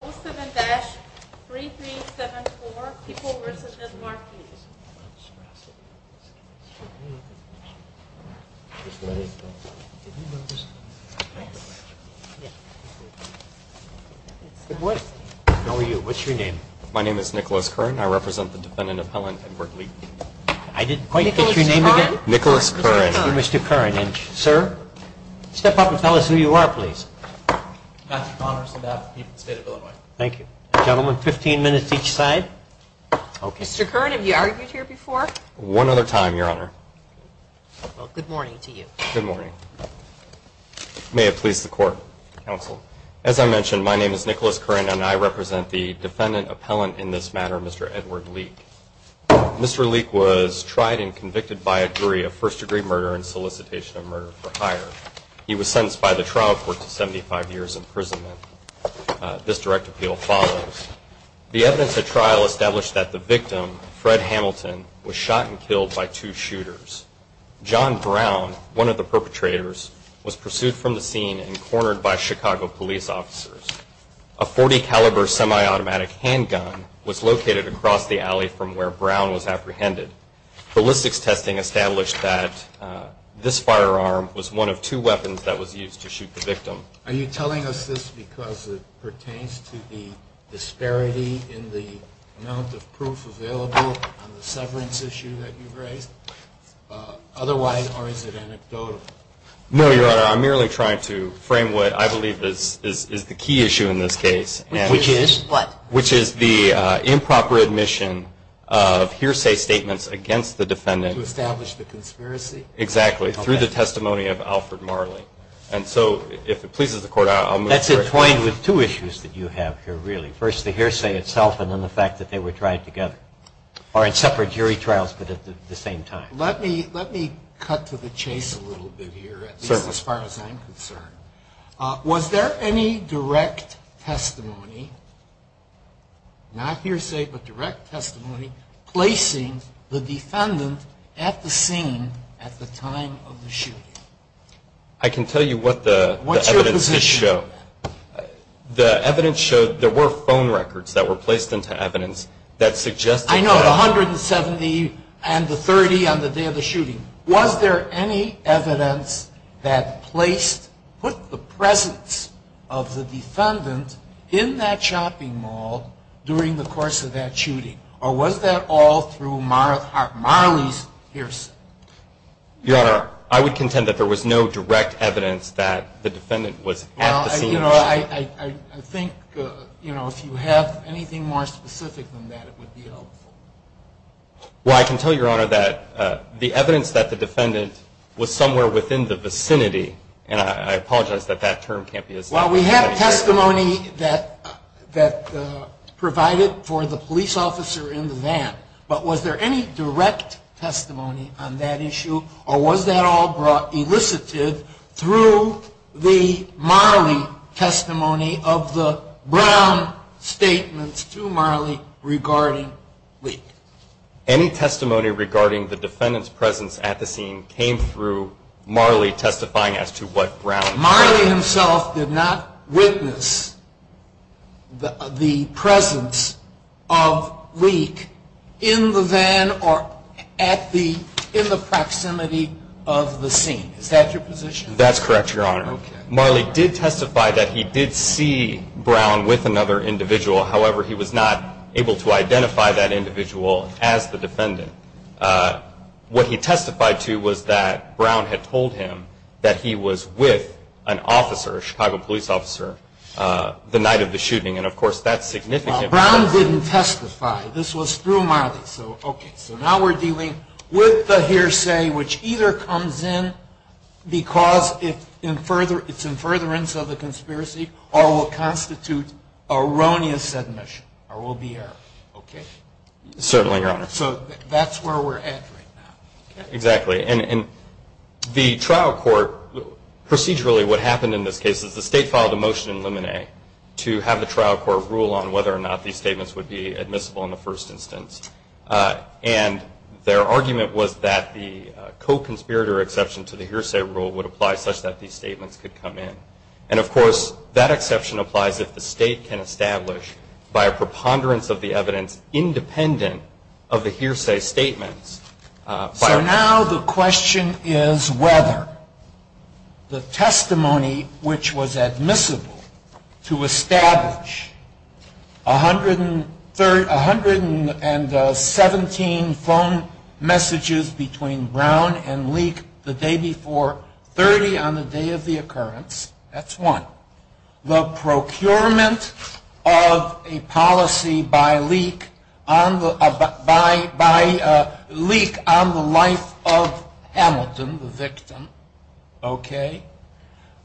07-3374, people versus the market. How are you? What's your name? My name is Nicholas Curran. I represent the defendant of Helen and Berkeley. I didn't quite get your name again. Nicholas Curran. Mr. Curran. Sir, step up and tell us who you are, please. I'm Patrick Connors. I'm the Chief of the State of Illinois. Thank you. Gentlemen, 15 minutes each side. Mr. Curran, have you argued here before? One other time, Your Honor. Well, good morning to you. Good morning. May it please the Court. Counsel. As I mentioned, my name is Nicholas Curran, and I represent the defendant appellant in this matter, Mr. Edward Leak. Mr. Leak was tried and convicted by a jury of first-degree murder and solicitation of murder for hire. He was sentenced by the trial court to 75 years imprisonment. This direct appeal follows. The evidence at trial established that the victim, Fred Hamilton, was shot and killed by two shooters. John Brown, one of the perpetrators, was pursued from the scene and cornered by Chicago police officers. A .40-caliber semi-automatic handgun was located across the alley from where Brown was apprehended. Ballistics testing established that this firearm was one of two weapons that was used to shoot the victim. Are you telling us this because it pertains to the disparity in the amount of proof available on the severance issue that you raised? Otherwise, or is it anecdotal? No, Your Honor. I'm merely trying to frame what I believe is the key issue in this case. Which is what? The mission of hearsay statements against the defendant. To establish the conspiracy? Exactly, through the testimony of Alfred Marley. And so, if it pleases the Court, I'll move forward. That's entwined with two issues that you have here, really. First, the hearsay itself, and then the fact that they were tried together. Or in separate jury trials, but at the same time. Let me cut to the chase a little bit here, at least as far as I'm concerned. Was there any direct testimony, not hearsay, but direct testimony, placing the defendant at the scene at the time of the shooting? I can tell you what the evidence did show. What's your position? The evidence showed there were phone records that were placed into evidence that suggested... I know, the 170 and the 30 on the day of the shooting. Was there any evidence that put the presence of the defendant in that shopping mall during the course of that shooting? Or was that all through Marley's hearsay? Your Honor, I would contend that there was no direct evidence that the defendant was at the scene. I think if you have anything more specific than that, it would be helpful. Well, I can tell you, Your Honor, that the evidence that the defendant was somewhere within the vicinity, and I apologize that that term can't be as... Well, we have testimony that provided for the police officer in the van. But was there any direct testimony on that issue? Or was that all elicited through the Marley testimony of the Brown statements to Marley regarding Leek? Any testimony regarding the defendant's presence at the scene came through Marley testifying as to what Brown... Marley himself did not witness the presence of Leek in the van or in the proximity of the scene. Is that your position? That's correct, Your Honor. Marley did testify that he did see Brown with another individual. However, he was not able to identify that individual as the defendant. What he testified to was that Brown had told him that he was with an officer, a Chicago police officer, the night of the shooting. And, of course, that's significant... Brown didn't testify. This was through Marley. So now we're dealing with the hearsay which either comes in because it's in furtherance of the conspiracy or will constitute erroneous admission or will be error. Certainly, Your Honor. So that's where we're at right now. Exactly. And the trial court, procedurally what happened in this case, is the state filed a motion in Lemonet to have the trial court rule on whether or not these statements would be admissible in the first instance. And their argument was that the co-conspirator exception to the hearsay rule would apply such that these statements could come in. And, of course, that exception applies if the state can establish, by a preponderance of the evidence, independent of the hearsay statements. So now the question is whether the testimony which was admissible to establish 117 phone messages between Brown and Leek the day before 30 on the day of the occurrence, that's one. The procurement of a policy by Leek on the life of Hamilton, the victim. Okay.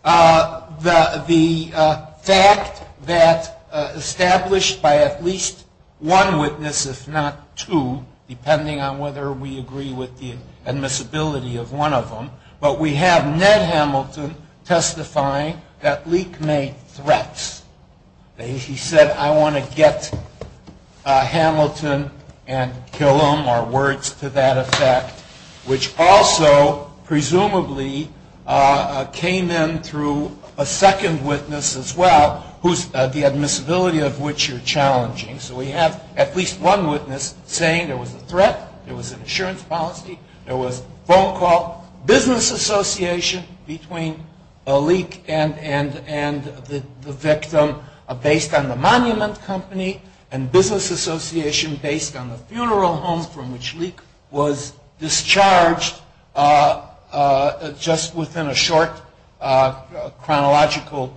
The fact that established by at least one witness, if not two, depending on whether we agree with the admissibility of one of them. But we have Ned Hamilton testifying that Leek made threats. He said, I want to get Hamilton and kill him, or words to that effect, which also presumably came in through a second witness as well, the admissibility of which you're challenging. So we have at least one witness saying there was a threat, there was an insurance policy, there was a phone call, business association between Leek and the victim based on the monument company and business association based on the funeral home from which Leek was discharged just within a short chronological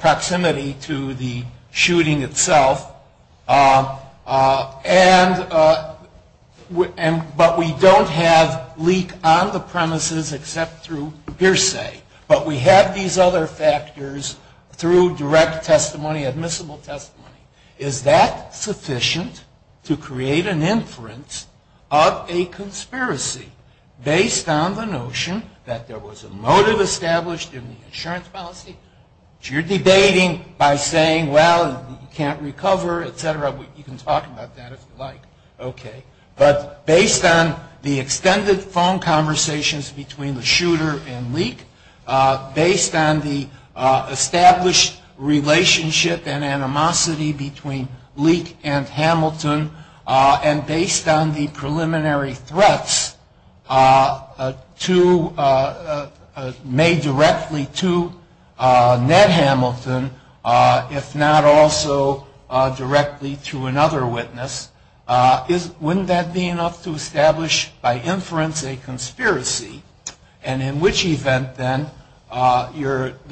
proximity to the shooting itself. But we don't have Leek on the premises except through hearsay. But we have these other factors through direct testimony, admissible testimony. Is that sufficient to create an inference of a conspiracy based on the notion that there was a motive established in the insurance policy? You're debating by saying, well, you can't recover, et cetera. You can talk about that if you like. But based on the extended phone conversations between the shooter and Leek, based on the established relationship and animosity between Leek and Hamilton, and based on the preliminary threats made directly to Ned Hamilton, if not also directly to another witness, wouldn't that be enough to establish by inference a conspiracy? And in which event, then, the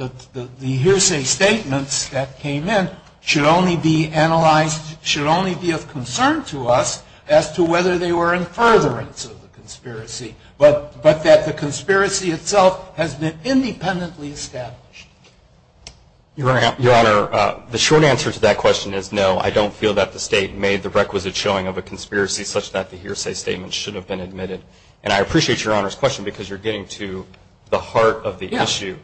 hearsay statements that came in should only be analyzed, should only be of concern to us as to whether they were in furtherance of the conspiracy, but that the conspiracy itself has been independently established. Your Honor, the short answer to that question is no. I don't feel that the State made the requisite showing of a conspiracy such that the hearsay statements should have been admitted. And I appreciate Your Honor's question because you're getting to the heart of the issue,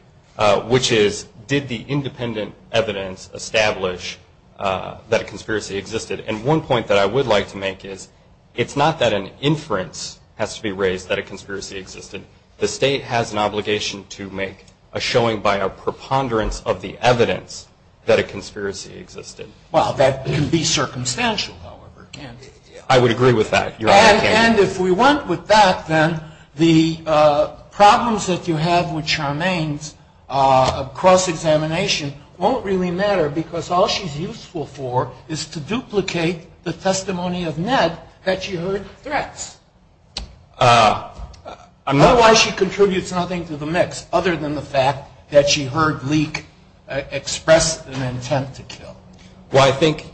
which is did the independent evidence establish that a conspiracy existed? And one point that I would like to make is it's not that an inference has to be raised that a conspiracy existed. The State has an obligation to make a showing by a preponderance of the evidence that a conspiracy existed. Well, that can be circumstantial, however, can't it? I would agree with that, Your Honor. And if we went with that, then, the problems that you have with Charmaine's cross-examination won't really matter because all she's useful for is to duplicate the testimony of Ned that she heard threats. Otherwise, she contributes nothing to the mix, other than the fact that she heard Leek express an intent to kill. Well, I think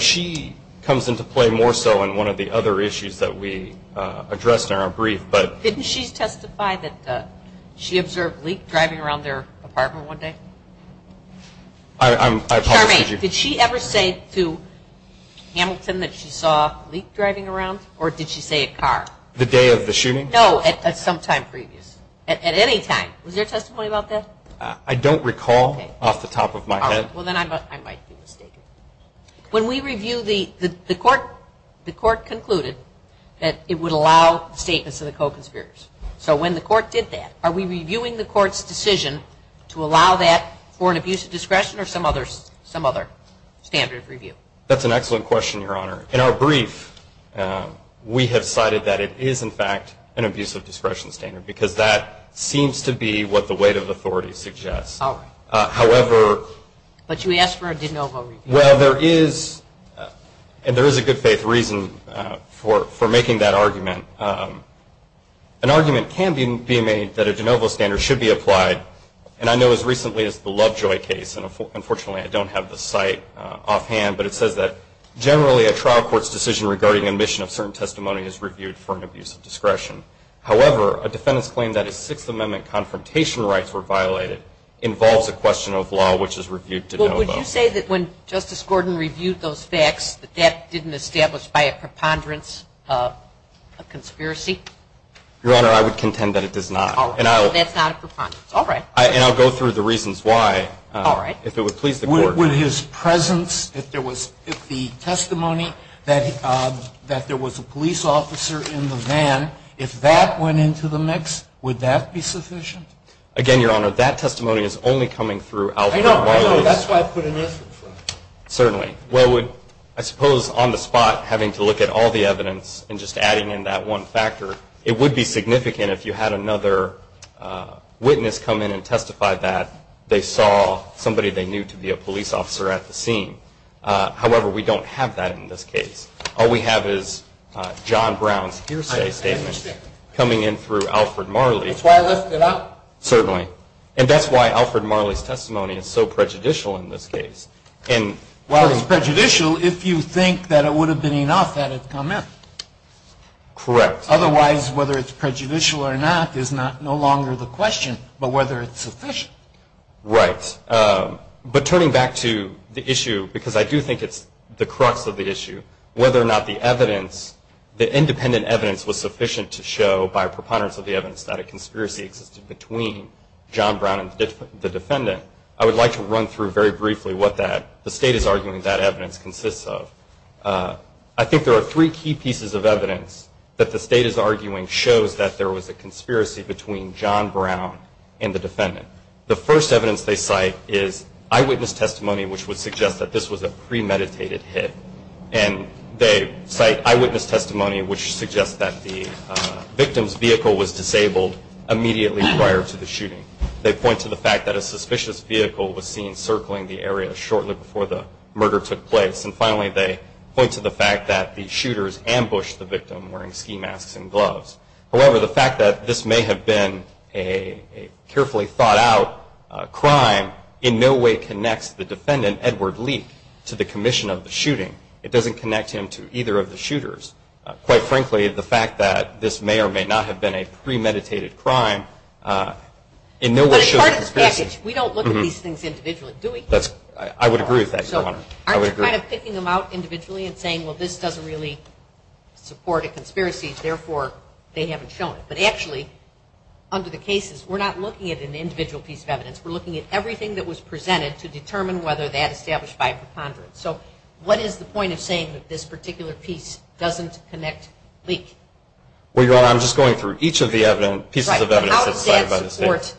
she comes into play more so in one of the other issues that we addressed in our brief. Didn't she testify that she observed Leek driving around their apartment one day? Charmaine, did she ever say to Hamilton that she saw Leek driving around, or did she say a car? The day of the shooting? No, at some time previous, at any time. Was there testimony about that? I don't recall off the top of my head. Well, then I might be mistaken. When we review the court concluded that it would allow statements of the co-conspirators. So when the court did that, are we reviewing the court's decision to allow that for an abuse of discretion or some other standard of review? That's an excellent question, Your Honor. In our brief, we have cited that it is, in fact, an abuse of discretion standard because that seems to be what the weight of authority suggests. But you asked for a de novo review. Well, there is a good faith reason for making that argument. An argument can be made that a de novo standard should be applied, and I know as recently as the Lovejoy case, and unfortunately I don't have the site offhand, but it says that generally a trial court's decision regarding admission of certain testimony is reviewed for an abuse of discretion. However, a defendant's claim that his Sixth Amendment confrontation rights were violated involves a question of law which is reviewed de novo. Well, would you say that when Justice Gordon reviewed those facts that that didn't establish by a preponderance of conspiracy? Your Honor, I would contend that it does not. All right. So that's not a preponderance. All right. And I'll go through the reasons why. All right. If it would please the court. With his presence, if there was the testimony that there was a police officer in the van, if that went into the mix, would that be sufficient? Again, Your Honor, that testimony is only coming through alphabetically. I know. That's why I put an effort for it. Certainly. Well, I suppose on the spot, having to look at all the evidence and just adding in that one factor, it would be significant if you had another witness come in and testify that they saw somebody they knew to be a police officer at the scene. However, we don't have that in this case. All we have is John Brown's hearsay statement coming in through Alfred Marley. That's why I left it out. Certainly. And that's why Alfred Marley's testimony is so prejudicial in this case. Well, it's prejudicial if you think that it would have been enough had it come in. Correct. Otherwise, whether it's prejudicial or not is no longer the question, but whether it's sufficient. Right. But turning back to the issue, because I do think it's the crux of the issue, whether or not the evidence, the independent evidence, was sufficient to show by preponderance of the evidence that a conspiracy existed between John Brown and the defendant, I would like to run through very briefly what the State is arguing that evidence consists of. I think there are three key pieces of evidence that the State is arguing shows that there was a conspiracy between John Brown and the defendant. The first evidence they cite is eyewitness testimony, which would suggest that this was a premeditated hit. And they cite eyewitness testimony, which suggests that the victim's vehicle was disabled immediately prior to the shooting. They point to the fact that a suspicious vehicle was seen circling the area shortly before the murder took place. And finally, they point to the fact that the shooters ambushed the victim wearing ski masks and gloves. However, the fact that this may have been a carefully thought out crime in no way connects the defendant, Edward Leak, to the commission of the shooting. It doesn't connect him to either of the shooters. Quite frankly, the fact that this may or may not have been a premeditated crime in no way shows conspiracy. But as part of the package, we don't look at these things individually, do we? I would agree with that, Your Honor. Aren't you kind of picking them out individually and saying, well this doesn't really support a conspiracy, therefore they haven't shown it. But actually, under the cases, we're not looking at an individual piece of evidence. We're looking at everything that was presented to determine whether that established by a preponderance. So what is the point of saying that this particular piece doesn't connect Leak? Well, Your Honor, I'm just going through each of the pieces of evidence. Right. But how does that support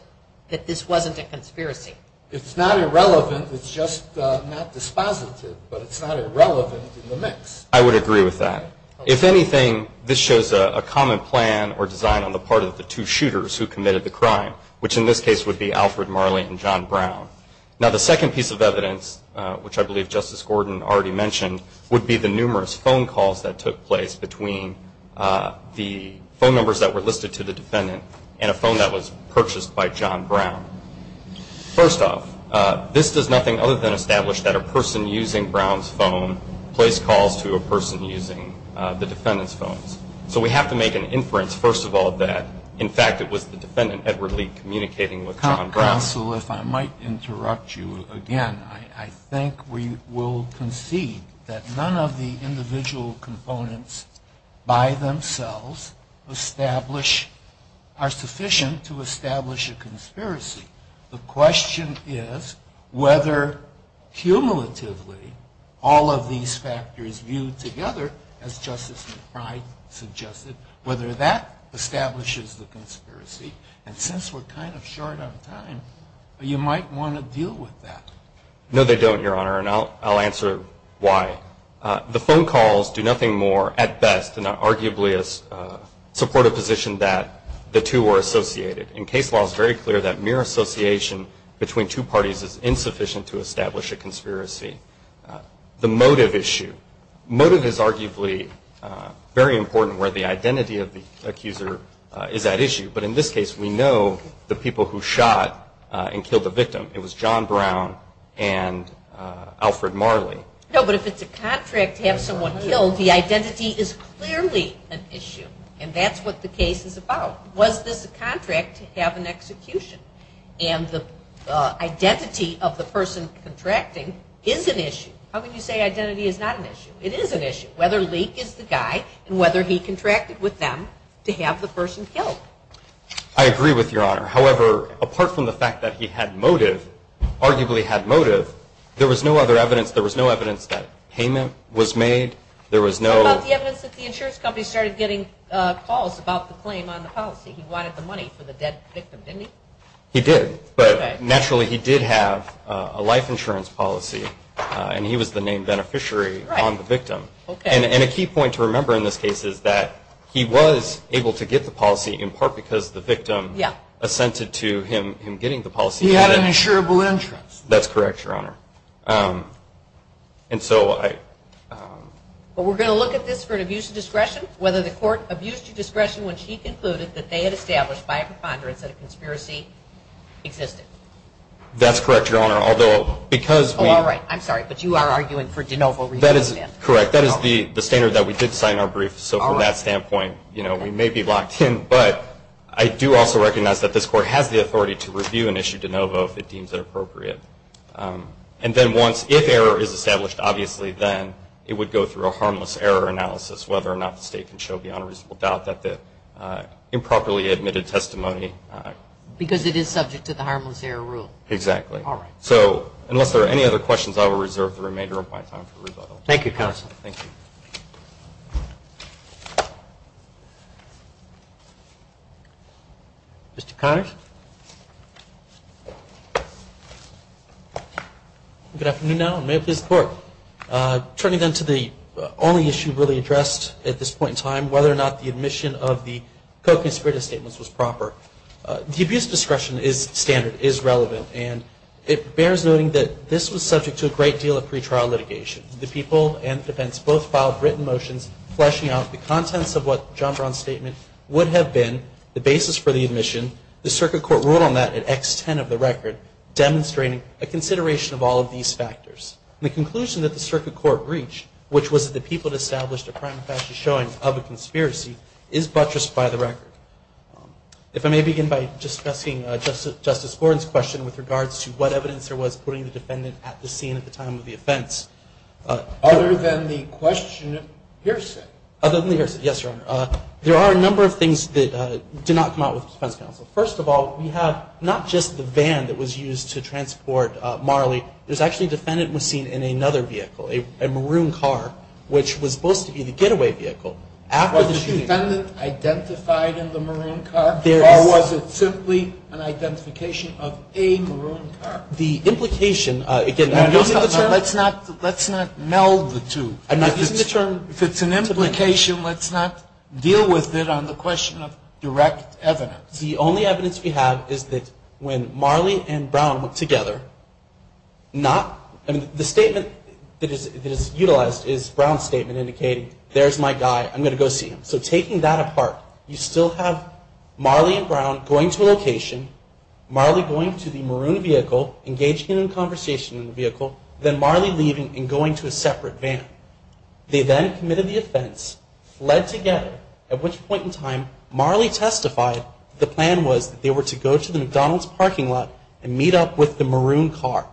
that this wasn't a conspiracy? It's not irrelevant. It's just not dispositive. But it's not irrelevant in the mix. I would agree with that. If anything, this shows a common plan or design on the part of the two shooters who committed the crime, which in this case would be Alfred Marley and John Brown. Now, the second piece of evidence, which I believe Justice Gordon already mentioned, would be the numerous phone calls that took place between the phone numbers that were listed to the defendant and a phone that was purchased by John Brown. First off, this does nothing other than establish that a person using Brown's phone placed calls to a person using the defendant's phone. So we have to make an inference, first of all, that, in fact, it was the defendant, Edward Leak, communicating with John Brown. Counsel, if I might interrupt you again, I think we will concede that none of the individual components by themselves are sufficient to establish a conspiracy. The question is whether, cumulatively, all of these factors viewed together, as Justice McBride suggested, whether that establishes the conspiracy. And since we're kind of short on time, you might want to deal with that. No, they don't, Your Honor, and I'll answer why. The phone calls do nothing more, at best, than arguably support a position that the two were associated. And case law is very clear that mere association between two parties is insufficient to establish a conspiracy. The motive issue. Motive is arguably very important where the identity of the accuser is at issue. But in this case, we know the people who shot and killed the victim. It was John Brown and Alfred Marley. No, but if it's a contract to have someone killed, the identity is clearly an issue. And that's what the case is about. Was this a contract to have an execution? And the identity of the person contracting is an issue. How can you say identity is not an issue? It is an issue, whether Leek is the guy and whether he contracted with them to have the person killed. I agree with you, Your Honor. However, apart from the fact that he had motive, arguably had motive, there was no other evidence. There was no evidence that payment was made. There was no. What about the evidence that the insurance company started getting calls about the claim on the policy? He wanted the money for the dead victim, didn't he? He did. But naturally, he did have a life insurance policy, and he was the named beneficiary on the victim. And a key point to remember in this case is that he was able to get the policy in part because the victim assented to him getting the policy. He had an insurable interest. That's correct, Your Honor. But we're going to look at this for an abuse of discretion, whether the court abused your discretion when she concluded that they had established by a preponderance that a conspiracy existed. That's correct, Your Honor. Although because we. Oh, all right. I'm sorry, but you are arguing for de novo. That is correct. That is the standard that we did sign our brief. So from that standpoint, you know, we may be locked in, but I do also recognize that this court has the authority to review an issue de novo if it deems it appropriate. And then once, if error is established, obviously then it would go through a harmless error analysis, whether or not the state can show beyond a reasonable doubt that the improperly admitted testimony. Because it is subject to the harmless error rule. Exactly. All right. So unless there are any other questions, I will reserve the remainder of my time for rebuttal. Thank you, counsel. Thank you. Mr. Connors. Good afternoon, Your Honor, and may it please the Court. Turning then to the only issue really addressed at this point in time, whether or not the admission of the co-conspirator statements was proper. The abuse discretion is standard, is relevant, and it bears noting that this was subject to a great deal of pre-trial litigation. The people and the defense both filed written motions fleshing out the contents of what John Brown's statement would have been, the basis for the admission. The circuit court ruled on that at X10 of the record, demonstrating a consideration of all of these factors. The conclusion that the circuit court reached, which was that the people had established a crime of fascist showing of a conspiracy, is buttressed by the record. If I may begin by discussing Justice Gordon's question with regards to what evidence there was putting the defendant at the scene at the time of the offense. Other than the question of hearsay. Other than the hearsay, yes, Your Honor. There are a number of things that did not come out with defense counsel. First of all, we have not just the van that was used to transport Marley, there's actually a defendant was seen in another vehicle, a maroon car, which was supposed to be the getaway vehicle. Was the defendant identified in the maroon car? Or was it simply an identification of a maroon car? The implication, again, I'm using the term. Let's not meld the two. If it's an implication, let's not deal with it on the question of direct evidence. The only evidence we have is that when Marley and Brown went together, not, the statement that is utilized is Brown's statement indicating, there's my guy, I'm going to go see him. So taking that apart, you still have Marley and Brown going to a location, Marley going to the maroon vehicle, engaging in a conversation in the vehicle, then Marley leaving and going to a separate van. They then committed the offense, fled together, at which point in time, Marley testified the plan was that they were to go to the McDonald's parking lot and meet up with the maroon car.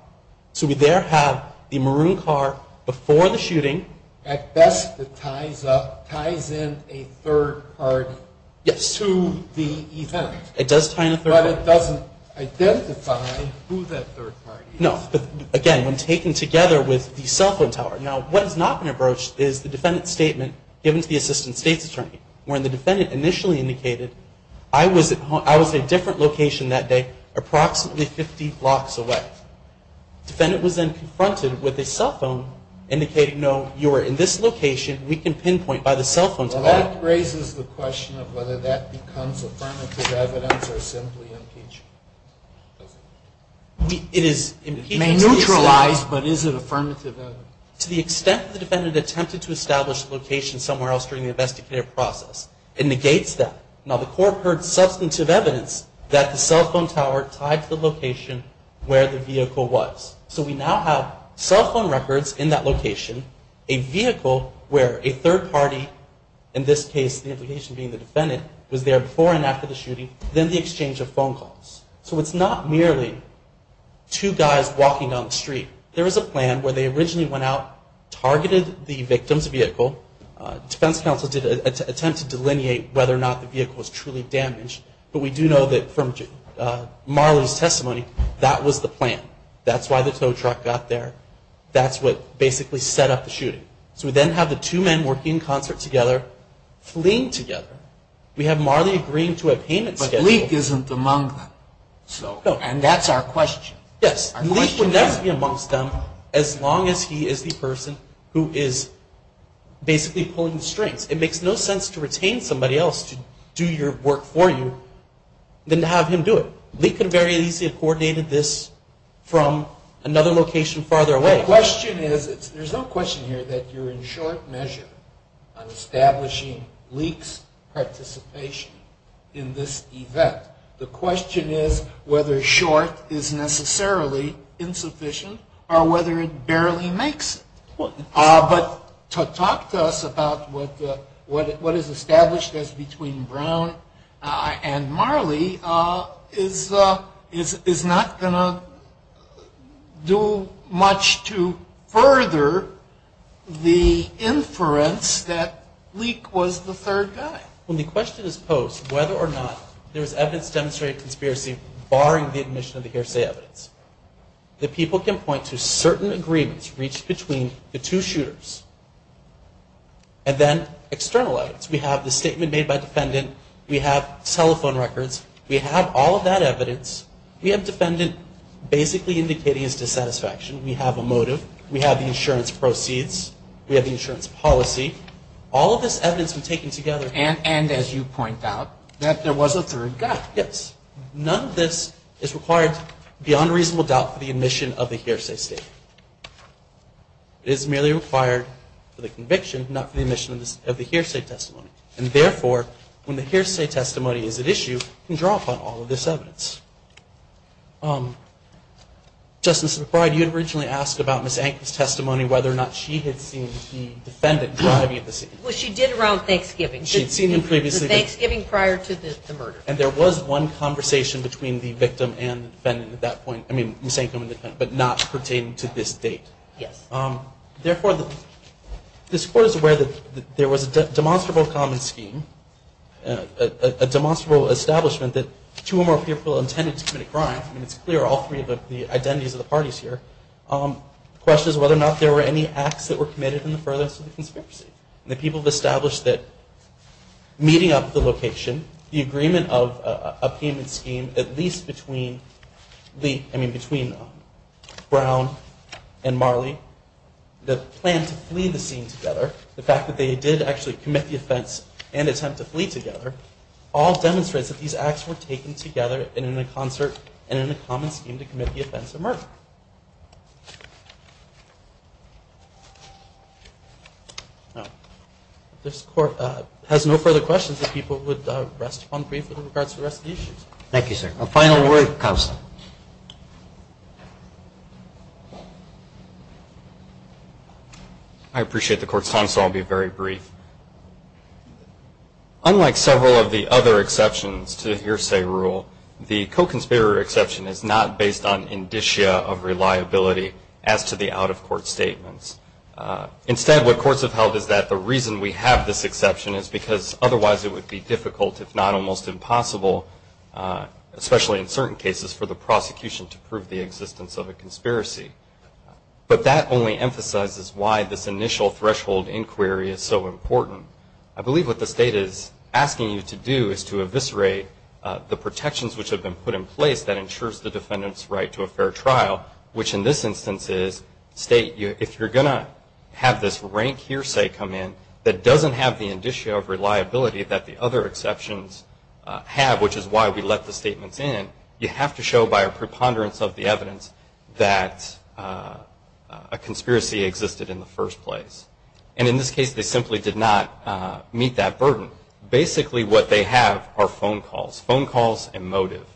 So we there have the maroon car before the shooting. At best, it ties up, ties in a third party. Yes. To the event. It does tie in a third party. But it doesn't identify who that third party is. No. But, again, when taken together with the cell phone tower. Now, what has not been approached is the defendant's statement given to the assistant state's attorney. When the defendant initially indicated, I was at a different location that day, approximately 50 blocks away. The defendant was then confronted with a cell phone indicating, no, you are in this location, we can pinpoint by the cell phone tower. Well, that raises the question of whether that becomes affirmative evidence or simply impeachment. It is impeachment. It may neutralize, but is it affirmative evidence? To the extent the defendant attempted to establish the location somewhere else during the investigative process, it negates that. Now, the court heard substantive evidence that the cell phone tower tied to the location where the vehicle was. So, we now have cell phone records in that location, a vehicle where a third party, in this case, the implication being the defendant, was there before and after the shooting, then the exchange of phone calls. So, it's not merely two guys walking down the street. There is a plan where they originally went out, targeted the victim's vehicle. Defense counsel did attempt to delineate whether or not the vehicle was truly damaged, but we do know that from Marley's testimony, that was the plan. That's why the tow truck got there. That's what basically set up the shooting. So, we then have the two men working in concert together, fleeing together. We have Marley agreeing to a payment schedule. But Leak isn't among them. So, and that's our question. Yes. Leak would never be amongst them as long as he is the person who is basically pulling the strings. It makes no sense to retain somebody else to do your work for you, than to have him do it. Leak could have very easily coordinated this from another location farther away. The question is, there's no question here that you're in short measure on establishing Leak's participation in this event. The question is whether short is necessarily insufficient, or whether it barely makes it. But to talk to us about what is established as between Brown and Marley is not going to do much to further the inference that Leak was the third guy. When the question is posed whether or not there is evidence to demonstrate a conspiracy, barring the admission of the hearsay evidence, the people can point to certain agreements reached between the two shooters. And then external evidence. We have the statement made by defendant. We have telephone records. We have all of that evidence. We have defendant basically indicating his dissatisfaction. We have a motive. We have the insurance proceeds. We have the insurance policy. All of this evidence we've taken together. And as you point out, that there was a third guy. Yes. None of this is required beyond reasonable doubt for the admission of the hearsay statement. It is merely required for the conviction, not for the admission of the hearsay testimony. And therefore, when the hearsay testimony is at issue, you can draw upon all of this evidence. Justice McBride, you had originally asked about Ms. Ankle's testimony, whether or not she had seen the defendant driving at the scene. Well, she did around Thanksgiving. She had seen him previously. Thanksgiving prior to the murder. And there was one conversation between the victim and the defendant at that point. I mean, Ms. Ankle and the defendant, but not pertaining to this date. Yes. Therefore, this Court is aware that there was a demonstrable common scheme, a demonstrable establishment that two or more people intended to commit a crime. I mean, it's clear all three of the identities of the parties here. The question is whether or not there were any acts that were committed in the furthest of the conspiracy. And the people have established that meeting up the location, the agreement of a payment scheme, at least between the, I mean, between Brown and Marley, the plan to flee the scene together, the fact that they did actually commit the offense and attempt to flee together, all demonstrates that these acts were taken together and in a concert and in a common scheme to commit the offense of murder. No. This Court has no further questions. If people would rest upon brief with regards to the rest of the issues. Thank you, sir. A final word. Counsel. I appreciate the court's time. So I'll be very brief. Unlike several of the other exceptions to the hearsay rule, the co-conspirator exception is not based on indicia or evidence. Of reliability as to the out-of-court statements. Instead, what courts have held is that the reason we have this exception is because otherwise it would be difficult, if not almost impossible, especially in certain cases for the prosecution to prove the existence of a conspiracy. But that only emphasizes why this initial threshold inquiry is so important. I believe what the state is asking you to do is to eviscerate the protections which have been put in place that ensures the defendant's right to a fair trial, which in this instance is state, if you're going to have this rank hearsay come in that doesn't have the indicia of reliability that the other exceptions have, which is why we let the statements in, you have to show by a preponderance of the evidence that a conspiracy existed in the first place. And in this case, they simply did not meet that burden. Basically what they have are phone calls. Phone calls and motive.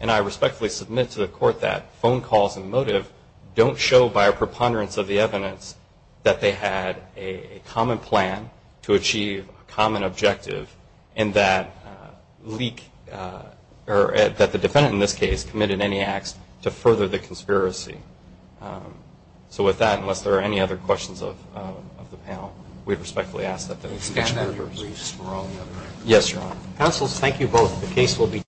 And I respectfully submit to the court that phone calls and motive don't show by a preponderance of the evidence that they had a common plan to achieve a common objective and that leak, or that the defendant in this case committed any acts to further the conspiracy. So with that, unless there are any other questions of the panel, we respectfully ask that they be excluded. Yes. Thank you both. The case will be.